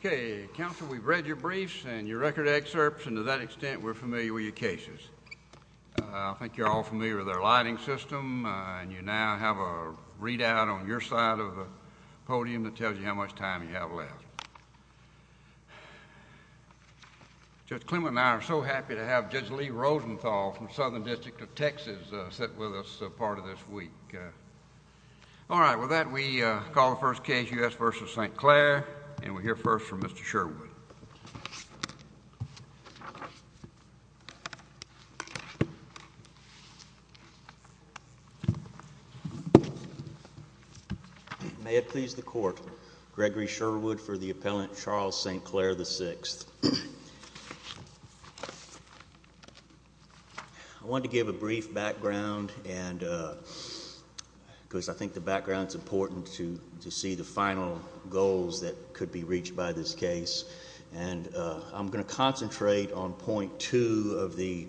Okay, counsel, we've read your briefs and your record excerpts, and to that extent, we're familiar with your cases. I think you're all familiar with our lighting system, and you now have a readout on your side of the podium that tells you how much time you have left. Judge Clement and I are so happy to have Judge Lee Rosenthal from Southern District of Texas sit with us for part of this week. All right, with that, we call the first case, U.S. v. St. Clair, and we'll hear first from Mr. Sherwood. May it please the Court, Gregory Sherwood for the appellant Charles St. Clair, VI. I wanted to give a brief background, because I think the background is important to see the final goals that could be reached by this case. And I'm going to concentrate on point two of the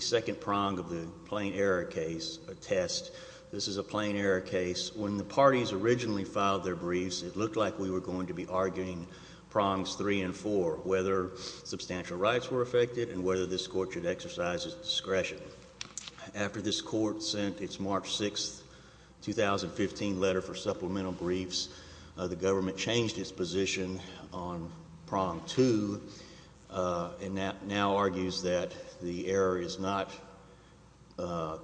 second prong of the plain error case, a test. This is a plain error case. When the parties originally filed their briefs, it looked like we were going to be arguing prongs three and four, whether substantial rights were affected and whether this Court should exercise its discretion. After this Court sent its March 6, 2015 letter for supplemental briefs, the government changed its position on prong two, and now argues that the error is not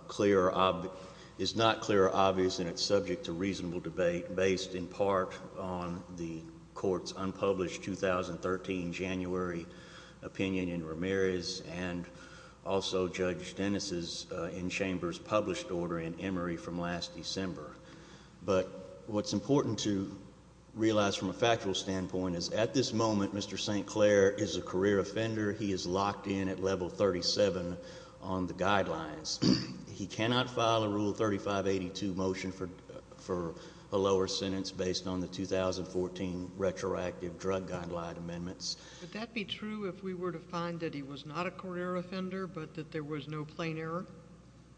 clear or obvious and it's subject to reasonable debate, based in part on the Court's unpublished 2013 January opinion in Ramirez, and also Judge Dennis' in-chambers published order in Emory from last December. But what's important to realize from a factual standpoint is at this moment, Mr. St. Clair is a career offender. He is locked in at level 37 on the guidelines. He cannot file a Rule 3582 motion for a lower sentence based on the 2014 retroactive drug guideline amendments. Would that be true if we were to find that he was not a career offender but that there was no plain error?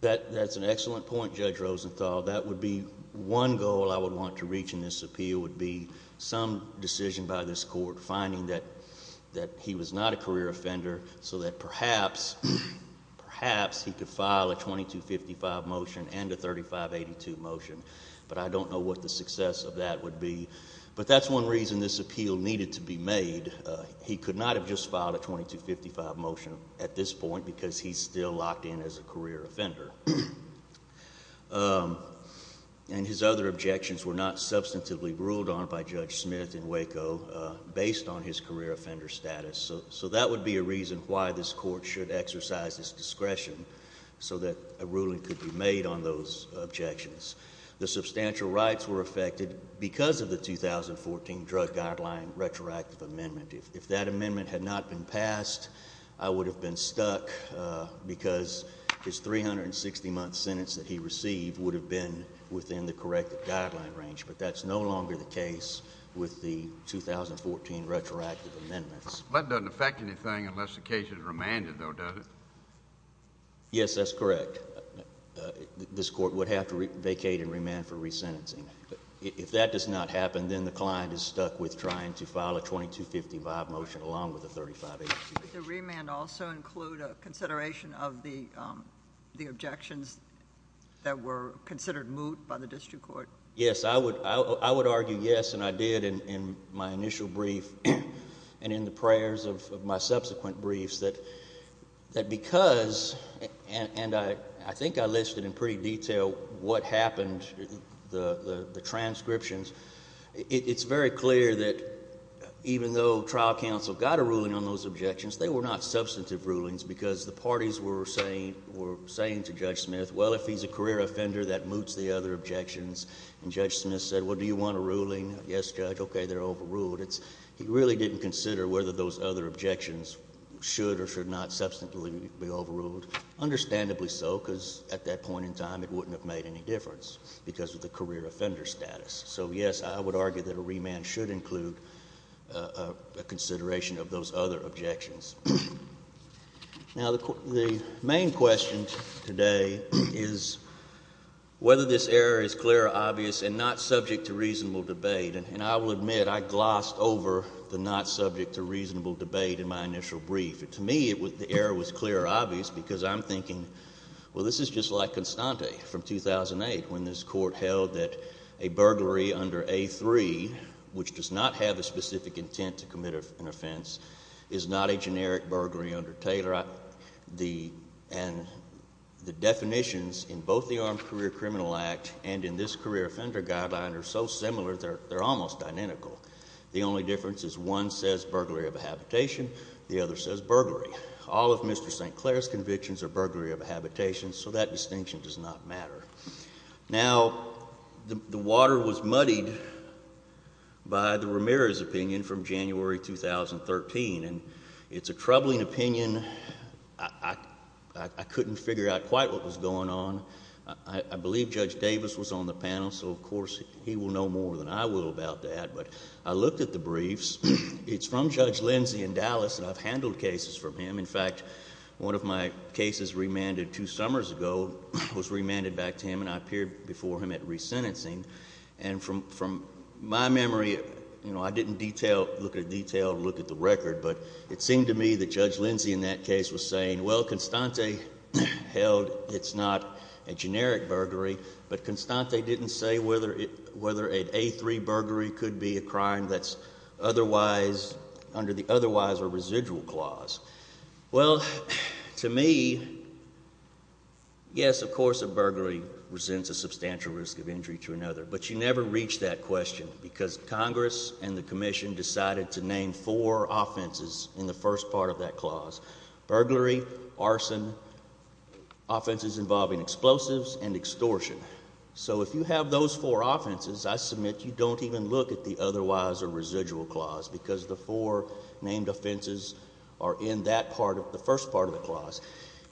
That's an excellent point, Judge Rosenthal. That would be one goal I would want to reach in this appeal would be some decision by this Court, finding that he was not a career offender so that perhaps he could file a 2255 motion and a 3582 motion. But I don't know what the success of that would be. But that's one reason this appeal needed to be made. He could not have just filed a 2255 motion at this point because he's still locked in as a career offender. And his other objections were not substantively ruled on by Judge Smith in Waco based on his career offender status. So that would be a reason why this Court should exercise its discretion so that a ruling could be made on those objections. The substantial rights were affected because of the 2014 drug guideline retroactive amendment. If that amendment had not been passed, I would have been stuck because his 360-month sentence that he received would have been within the corrected guideline range. But that's no longer the case with the 2014 retroactive amendments. That doesn't affect anything unless the case is remanded, though, does it? Yes, that's correct. This Court would have to vacate and remand for resentencing. If that does not happen, then the client is stuck with trying to file a 2255 motion along with a 3582. Would the remand also include a consideration of the objections that were considered moot by the district court? Yes, I would argue yes, and I did in my initial brief and in the prayers of my subsequent briefs that because, and I think I listed in pretty detail what happened, the transcriptions, it's very clear that even though trial counsel got a ruling on those objections, they were not substantive rulings because the parties were saying to Judge Smith, well, if he's a career offender, that moots the other objections. And Judge Smith said, well, do you want a ruling? Yes, Judge. Okay, they're overruled. He really didn't consider whether those other objections should or should not substantively be overruled. Understandably so, because at that point in time it wouldn't have made any difference because of the career offender status. So, yes, I would argue that a remand should include a consideration of those other objections. Now, the main question today is whether this error is clear or obvious and not subject to reasonable debate. And I will admit I glossed over the not subject to reasonable debate in my initial brief. To me, the error was clear or obvious because I'm thinking, well, this is just like Constante from 2008 when this court held that a burglary under A3, which does not have a specific intent to commit an offense, is not a generic burglary under Taylor. And the definitions in both the Armed Career Criminal Act and in this career offender guideline are so similar they're almost identical. The only difference is one says burglary of habitation, the other says burglary. All of Mr. St. Clair's convictions are burglary of habitation, so that distinction does not matter. Now, the water was muddied by the Ramirez opinion from January 2013, and it's a troubling opinion. I couldn't figure out quite what was going on. I believe Judge Davis was on the panel, so of course he will know more than I will about that. But I looked at the briefs. It's from Judge Lindsay in Dallas, and I've handled cases from him. In fact, one of my cases remanded two summers ago was remanded back to him, and I appeared before him at resentencing. And from my memory, I didn't detail, look at detail, look at the record. But it seemed to me that Judge Lindsay in that case was saying, well, Constante held it's not a generic burglary, but Constante didn't say whether an A3 burglary could be a crime that's otherwise, under the otherwise or residual clause. Well, to me, yes, of course a burglary resents a substantial risk of injury to another, but you never reach that question because Congress and the Commission decided to name four offenses in the first part of that clause. Burglary, arson, offenses involving explosives, and extortion. So if you have those four offenses, I submit you don't even look at the otherwise or residual clause because the four named offenses are in that part of the first part of the clause.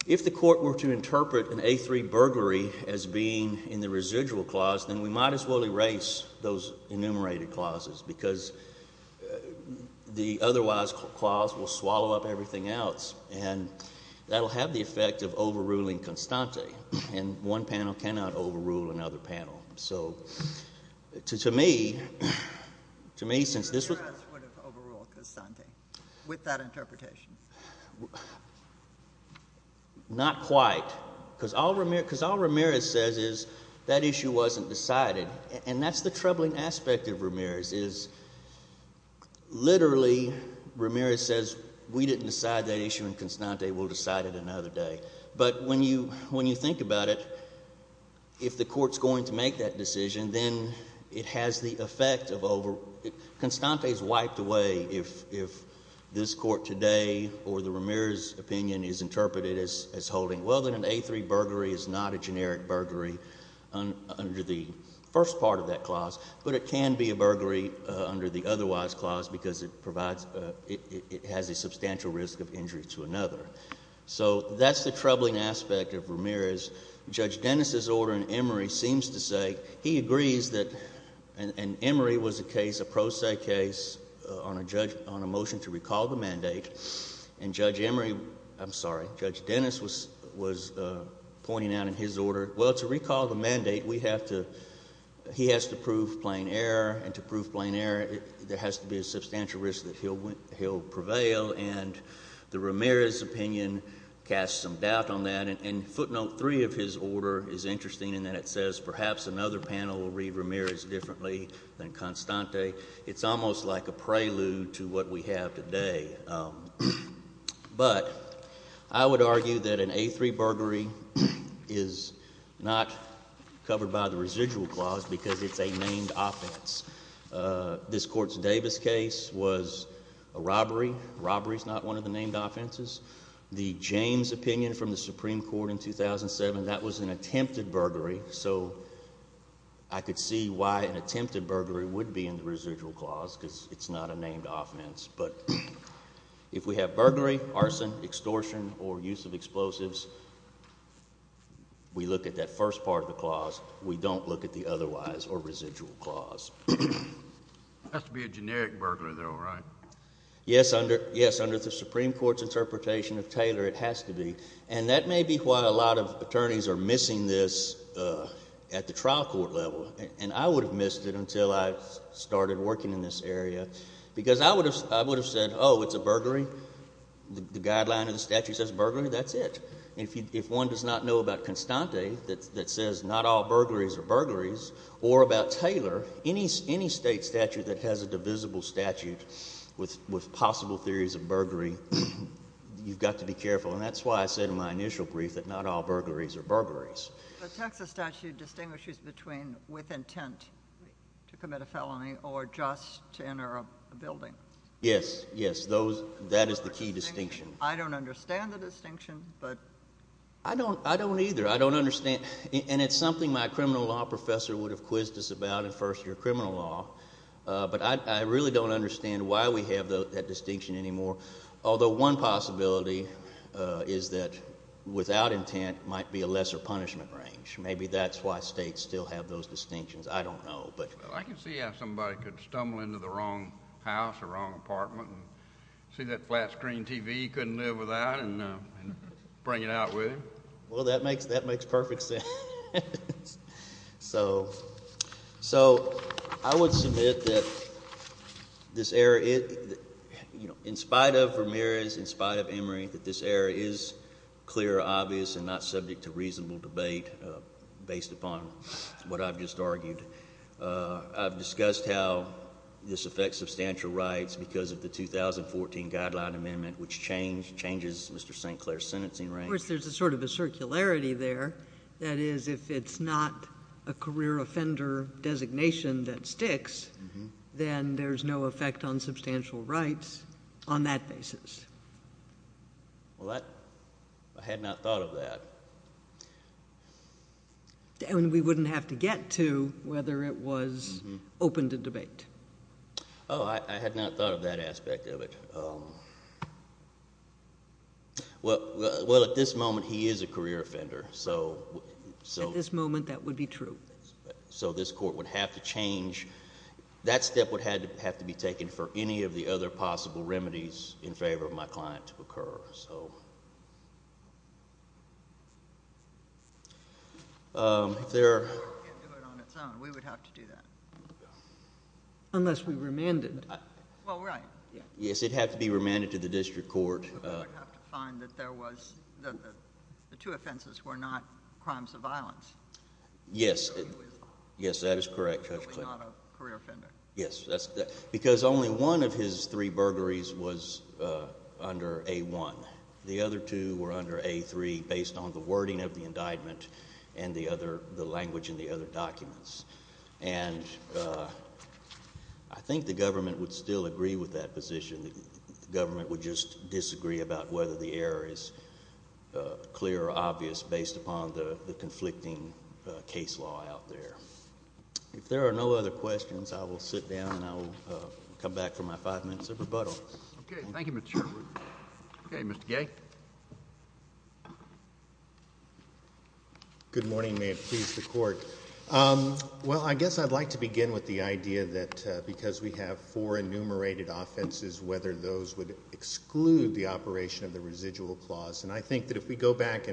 If the court were to interpret an A3 burglary as being in the residual clause, then we might as well erase those enumerated clauses because the otherwise clause will swallow up everything else. And that will have the effect of overruling Constante. And one panel cannot overrule another panel. So to me, to me since this was— Congress would have overruled Constante with that interpretation. Not quite. Because all Ramirez says is that issue wasn't decided. And that's the troubling aspect of Ramirez is literally Ramirez says we didn't decide that issue and Constante will decide it another day. But when you think about it, if the court is going to make that decision, then it has the effect of over— Constante is wiped away if this court today or the Ramirez opinion is interpreted as holding. Well, then an A3 burglary is not a generic burglary under the first part of that clause. But it can be a burglary under the otherwise clause because it provides—it has a substantial risk of injury to another. So that's the troubling aspect of Ramirez. Judge Dennis's order in Emory seems to say—he agrees that—and Emory was a case, a pro se case on a motion to recall the mandate. And Judge Emory—I'm sorry, Judge Dennis was pointing out in his order, well, to recall the mandate, we have to—he has to prove plain error. And to prove plain error, there has to be a substantial risk that he'll prevail. And the Ramirez opinion casts some doubt on that. And footnote three of his order is interesting in that it says perhaps another panel will read Ramirez differently than Constante. It's almost like a prelude to what we have today. But I would argue that an A3 burglary is not covered by the residual clause because it's a named offense. This Court's Davis case was a robbery. Robbery is not one of the named offenses. The James opinion from the Supreme Court in 2007, that was an attempted burglary. So I could see why an attempted burglary would be in the residual clause because it's not a named offense. But if we have burglary, arson, extortion, or use of explosives, we look at that first part of the clause. We don't look at the otherwise or residual clause. It has to be a generic burglar though, right? Yes, under the Supreme Court's interpretation of Taylor, it has to be. And that may be why a lot of attorneys are missing this at the trial court level. And I would have missed it until I started working in this area because I would have said, oh, it's a burglary. The guideline of the statute says burglary. That's it. If one does not know about Constante that says not all burglaries are burglaries or about Taylor, any state statute that has a divisible statute with possible theories of burglary, you've got to be careful. And that's why I said in my initial brief that not all burglaries are burglaries. The Texas statute distinguishes between with intent to commit a felony or just to enter a building. Yes, yes. That is the key distinction. I don't understand the distinction. I don't either. I don't understand. And it's something my criminal law professor would have quizzed us about in first year criminal law. But I really don't understand why we have that distinction anymore. Although one possibility is that without intent might be a lesser punishment range. Maybe that's why states still have those distinctions. I don't know. I can see how somebody could stumble into the wrong house or wrong apartment and see that flat screen TV he couldn't live without and bring it out with him. Well, that makes perfect sense. So I would submit that this error, in spite of Ramirez, in spite of Emory, that this error is clear, obvious, and not subject to reasonable debate based upon what I've just argued. I've discussed how this affects substantial rights because of the 2014 Guideline Amendment, which changes Mr. St. Clair's sentencing range. Of course, there's sort of a circularity there. That is, if it's not a career offender designation that sticks, then there's no effect on substantial rights on that basis. Well, I had not thought of that. We wouldn't have to get to whether it was open to debate. Oh, I had not thought of that aspect of it. Well, at this moment, he is a career offender. At this moment, that would be true. So this court would have to change. That step would have to be taken for any of the other possible remedies in favor of my client to occur. If the court can't do it on its own, we would have to do that. Unless we remanded. Well, right. Yes, it would have to be remanded to the district court. We would have to find that the two offenses were not crimes of violence. Yes. Yes, that is correct, Judge Clayton. He was not a career offender. Yes. Because only one of his three burglaries was under A-1. The other two were under A-3 based on the wording of the indictment and the language in the other documents. And I think the government would still agree with that position. The government would just disagree about whether the error is clear or obvious based upon the conflicting case law out there. If there are no other questions, I will sit down and I will come back for my five minutes of rebuttal. Okay. Thank you, Mr. Sherwood. Okay, Mr. Gay. Good morning. May it please the court. Well, I guess I'd like to begin with the idea that because we have four enumerated offenses, whether those would exclude the operation of the residual clause. And I think that if we go back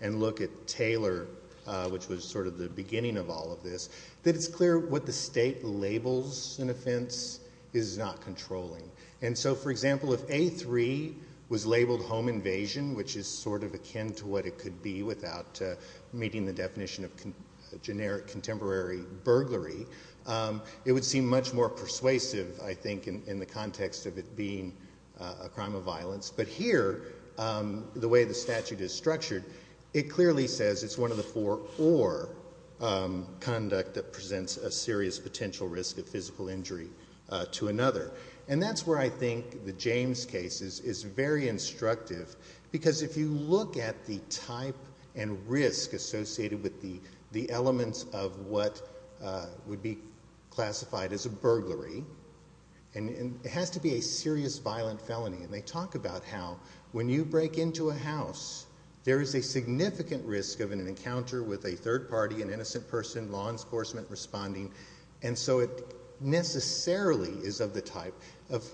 and look at Taylor, which was sort of the beginning of all of this, that it's clear what the state labels an offense is not controlling. And so, for example, if A-3 was labeled home invasion, which is sort of akin to what it could be without meeting the definition of generic contemporary burglary, it would seem much more persuasive, I think, in the context of it being a crime of violence. But here, the way the statute is structured, it clearly says it's one of the four or conduct that presents a serious potential risk of physical injury to another. And that's where I think the James case is very instructive, because if you look at the type and risk associated with the elements of what would be classified as a burglary, it has to be a serious violent felony. And they talk about how when you break into a house, there is a significant risk of an encounter with a third party, an innocent person, law enforcement responding. And so it necessarily is of the type of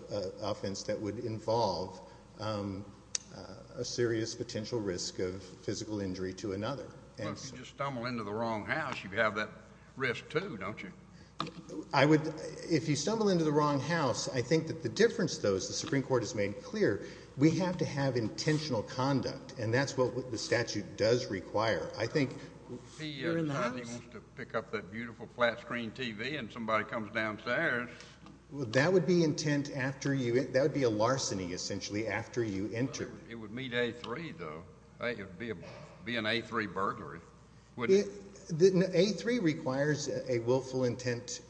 offense that would involve a serious potential risk of physical injury to another. Well, if you just stumble into the wrong house, you have that risk, too, don't you? If you stumble into the wrong house, I think that the difference, though, is the Supreme Court has made clear, we have to have intentional conduct, and that's what the statute does require. You're in the house? He wants to pick up that beautiful flat screen TV and somebody comes downstairs. Well, that would be intent after you, that would be a larceny, essentially, after you enter. It would meet A3, though. It would be an A3 burglary. A3 requires a willful intent.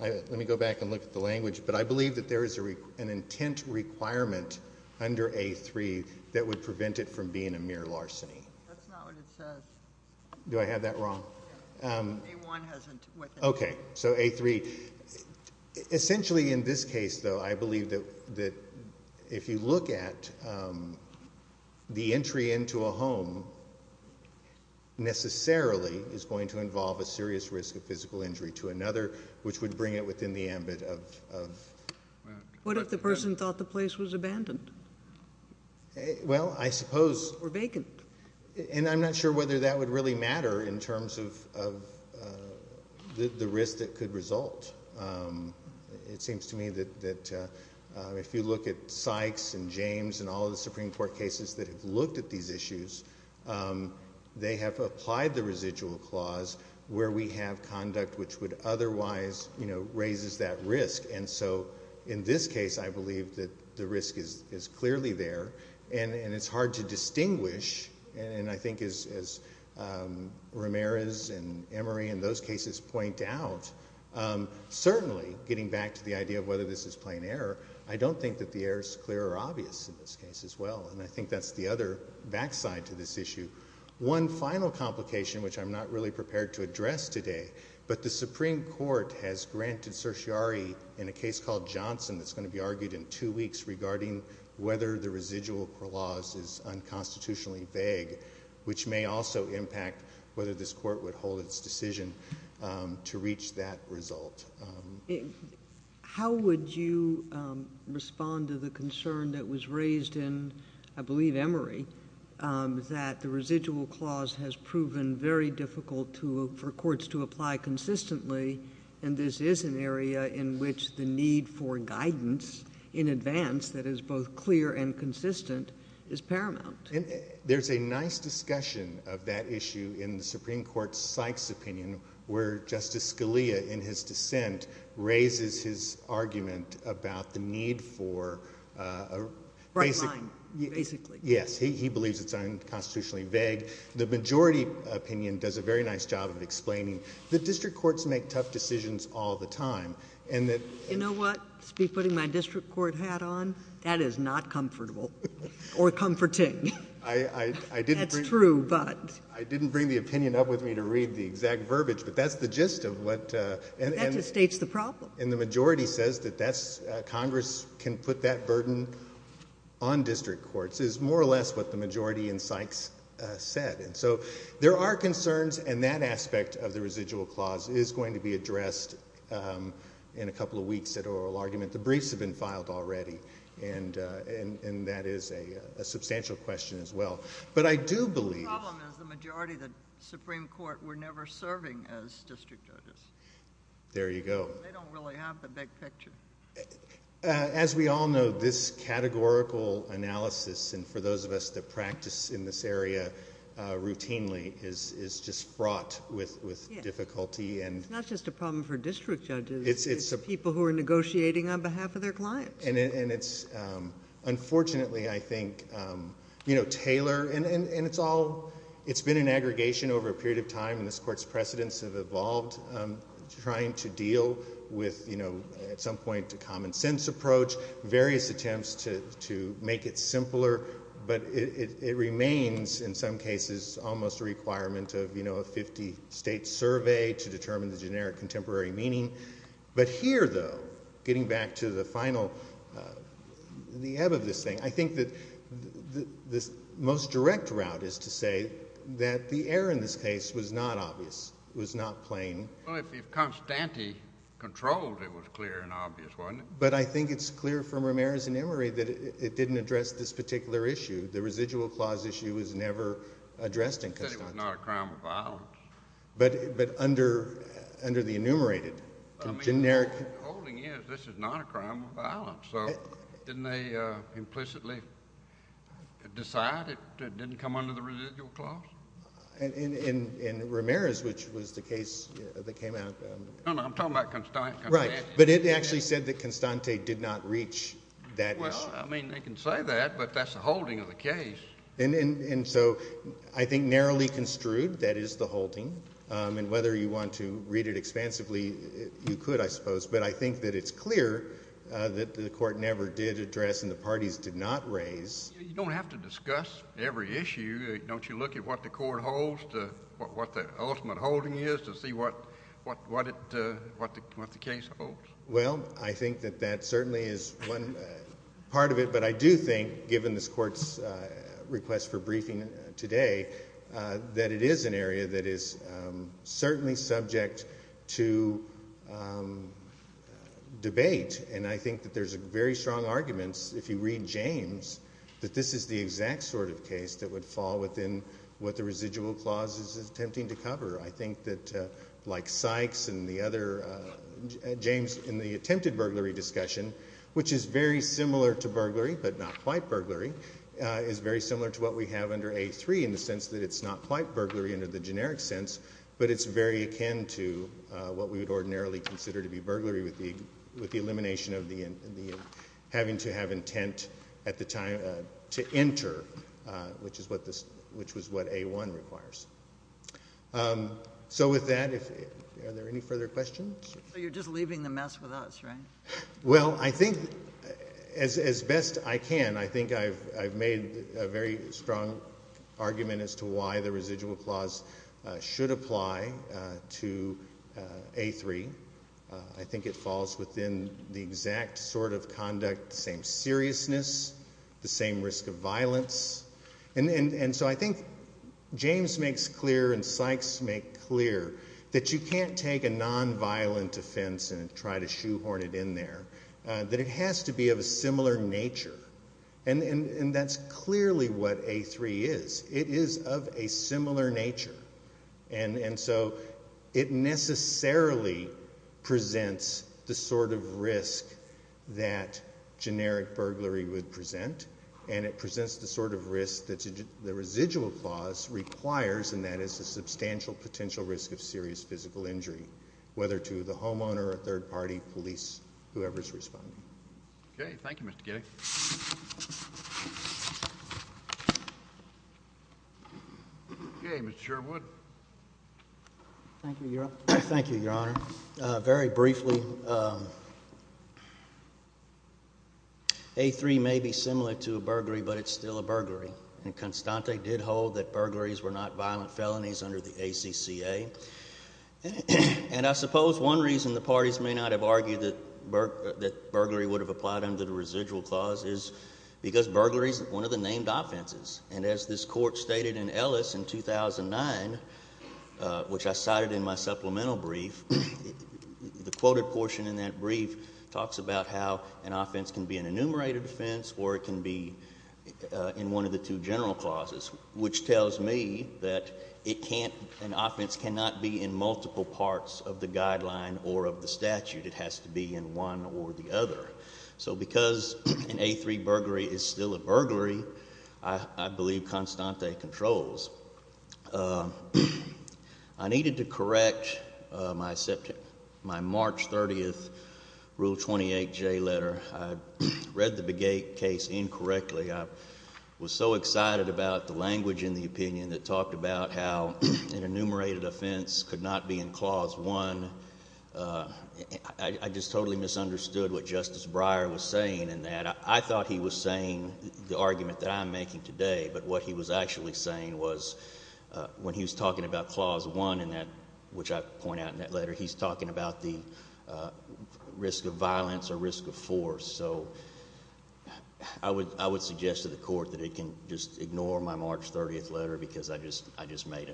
Let me go back and look at the language. But I believe that there is an intent requirement under A3 that would prevent it from being a mere larceny. That's not what it says. Do I have that wrong? A1 has intent. Okay, so A3. Essentially, in this case, though, I believe that if you look at the entry into a home, necessarily is going to involve a serious risk of physical injury to another, which would bring it within the ambit of... What if the person thought the place was abandoned? Well, I suppose... And I'm not sure whether that would really matter in terms of the risk that could result. It seems to me that if you look at Sykes and James and all the Supreme Court cases that have looked at these issues, they have applied the residual clause where we have conduct which would otherwise raise that risk. And so in this case, I believe that the risk is clearly there. And it's hard to distinguish. And I think as Ramirez and Emery in those cases point out, certainly getting back to the idea of whether this is plain error, I don't think that the error is clear or obvious in this case as well. And I think that's the other backside to this issue. One final complication, which I'm not really prepared to address today, but the Supreme Court has granted certiorari in a case called Johnson that's going to be argued in two weeks regarding whether the residual clause is unconstitutionally vague, which may also impact whether this court would hold its decision to reach that result. How would you respond to the concern that was raised in, I believe, Emery, that the residual clause has proven very difficult for courts to apply consistently, and this is an area in which the need for guidance in advance that is both clear and consistent is paramount? There's a nice discussion of that issue in the Supreme Court's Sykes opinion, where Justice Scalia, in his dissent, raises his argument about the need for a... Bright line, basically. Yes. He believes it's unconstitutionally vague. The majority opinion does a very nice job of explaining that district courts make tough decisions all the time, and that... You know what? To be putting my district court hat on, that is not comfortable or comforting. I didn't bring... That's true, but... I didn't bring the opinion up with me to read the exact verbiage, but that's the gist of what... That just states the problem. And the majority says that Congress can put that burden on district courts is more or less what the majority in Sykes said. And so there are concerns, and that aspect of the residual clause is going to be addressed in a couple of weeks at oral argument. The briefs have been filed already, and that is a substantial question as well. But I do believe... The problem is the majority of the Supreme Court were never serving as district judges. There you go. They don't really have the big picture. As we all know, this categorical analysis, and for those of us that practice in this area routinely, is just fraught with difficulty. It's not just a problem for district judges. It's people who are negotiating on behalf of their clients. And it's unfortunately, I think, tailored. And it's all... It's been an aggregation over a period of time, and this court's precedents have evolved trying to deal with, at some point, a common sense approach, various attempts to make it simpler. But it remains, in some cases, almost a requirement of a 50-state survey to determine the generic contemporary meaning. But here, though, getting back to the final... The ebb of this thing, I think that the most direct route is to say that the error in this case was not obvious. It was not plain. Well, if Constante controlled, it was clear and obvious, wasn't it? But I think it's clear from Ramirez and Emory that it didn't address this particular issue. The residual clause issue was never addressed in Constante. He said it was not a crime of violence. But under the enumerated, generic... The holding is this is not a crime of violence. So didn't they implicitly decide it didn't come under the residual clause? In Ramirez, which was the case that came out... No, no, I'm talking about Constante. Right. But it actually said that Constante did not reach that issue. Well, I mean, they can say that, but that's the holding of the case. And so I think narrowly construed, that is the holding. And whether you want to read it expansively, you could, I suppose. But I think that it's clear that the court never did address and the parties did not raise. You don't have to discuss every issue. Don't you look at what the court holds, what the ultimate holding is to see what the case holds? Well, I think that that certainly is one part of it. But I do think, given this court's request for briefing today, that it is an area that is certainly subject to debate. And I think that there's very strong arguments, if you read James, that this is the exact sort of case that would fall within what the residual clause is attempting to cover. I think that, like Sykes and the other James in the attempted burglary discussion, which is very similar to burglary but not quite burglary, is very similar to what we have under A3 in the sense that it's not quite burglary under the generic sense, but it's very akin to what we would ordinarily consider to be burglary with the elimination of having to have intent at the time to enter, which was what A1 requires. So with that, are there any further questions? You're just leaving the mess with us, right? Well, I think, as best I can, I think I've made a very strong argument as to why the residual clause should apply to A3. I think it falls within the exact sort of conduct, the same seriousness, the same risk of violence. And so I think James makes clear and Sykes makes clear that you can't take a nonviolent offense and try to shoehorn it in there, that it has to be of a similar nature. And that's clearly what A3 is. It is of a similar nature. And so it necessarily presents the sort of risk that generic burglary would present, and it presents the sort of risk that the residual clause requires, and that is the substantial potential risk of serious physical injury, whether to the homeowner, a third party, police, whoever's responding. Okay. Thank you, Mr. Giddey. James Sherwood. Thank you, Your Honor. Very briefly, A3 may be similar to a burglary, but it's still a burglary. And Constante did hold that burglaries were not violent felonies under the ACCA. And I suppose one reason the parties may not have argued that burglary would have applied under the residual clause is because burglary is one of the named offenses. And as this Court stated in Ellis in 2009, which I cited in my supplemental brief, the quoted portion in that brief talks about how an offense can be an enumerated offense or it can be in one of the two general clauses, which tells me that an offense cannot be in multiple parts of the guideline or of the statute. It has to be in one or the other. So because an A3 burglary is still a burglary, I believe Constante controls. I needed to correct my March 30th Rule 28J letter. I read the Begay case incorrectly. I was so excited about the language in the opinion that talked about how an enumerated offense could not be in Clause 1. I just totally misunderstood what Justice Breyer was saying in that. I thought he was saying the argument that I'm making today, but what he was actually saying was when he was talking about Clause 1, which I point out in that letter, he's talking about the risk of violence or risk of force. So I would suggest to the Court that it can just ignore my March 30th letter because I just made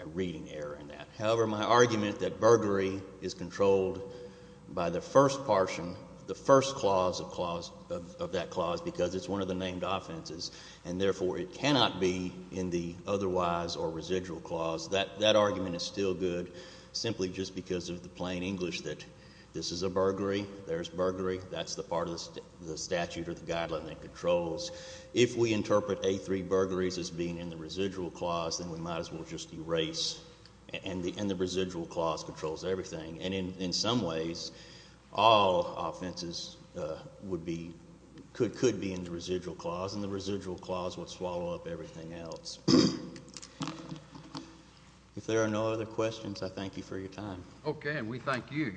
a reading error in that. However, my argument that burglary is controlled by the first portion, the first clause of that clause, because it's one of the named offenses and, therefore, it cannot be in the otherwise or residual clause, that argument is still good simply just because of the plain English that this is a burglary, there's burglary, that's the part of the statute or the guideline that controls. If we interpret A3 burglaries as being in the residual clause, then we might as well just erase, and the residual clause controls everything. And in some ways, all offenses would be, could be in the residual clause, and the residual clause would swallow up everything else. If there are no other questions, I thank you for your time. Okay, and we thank you.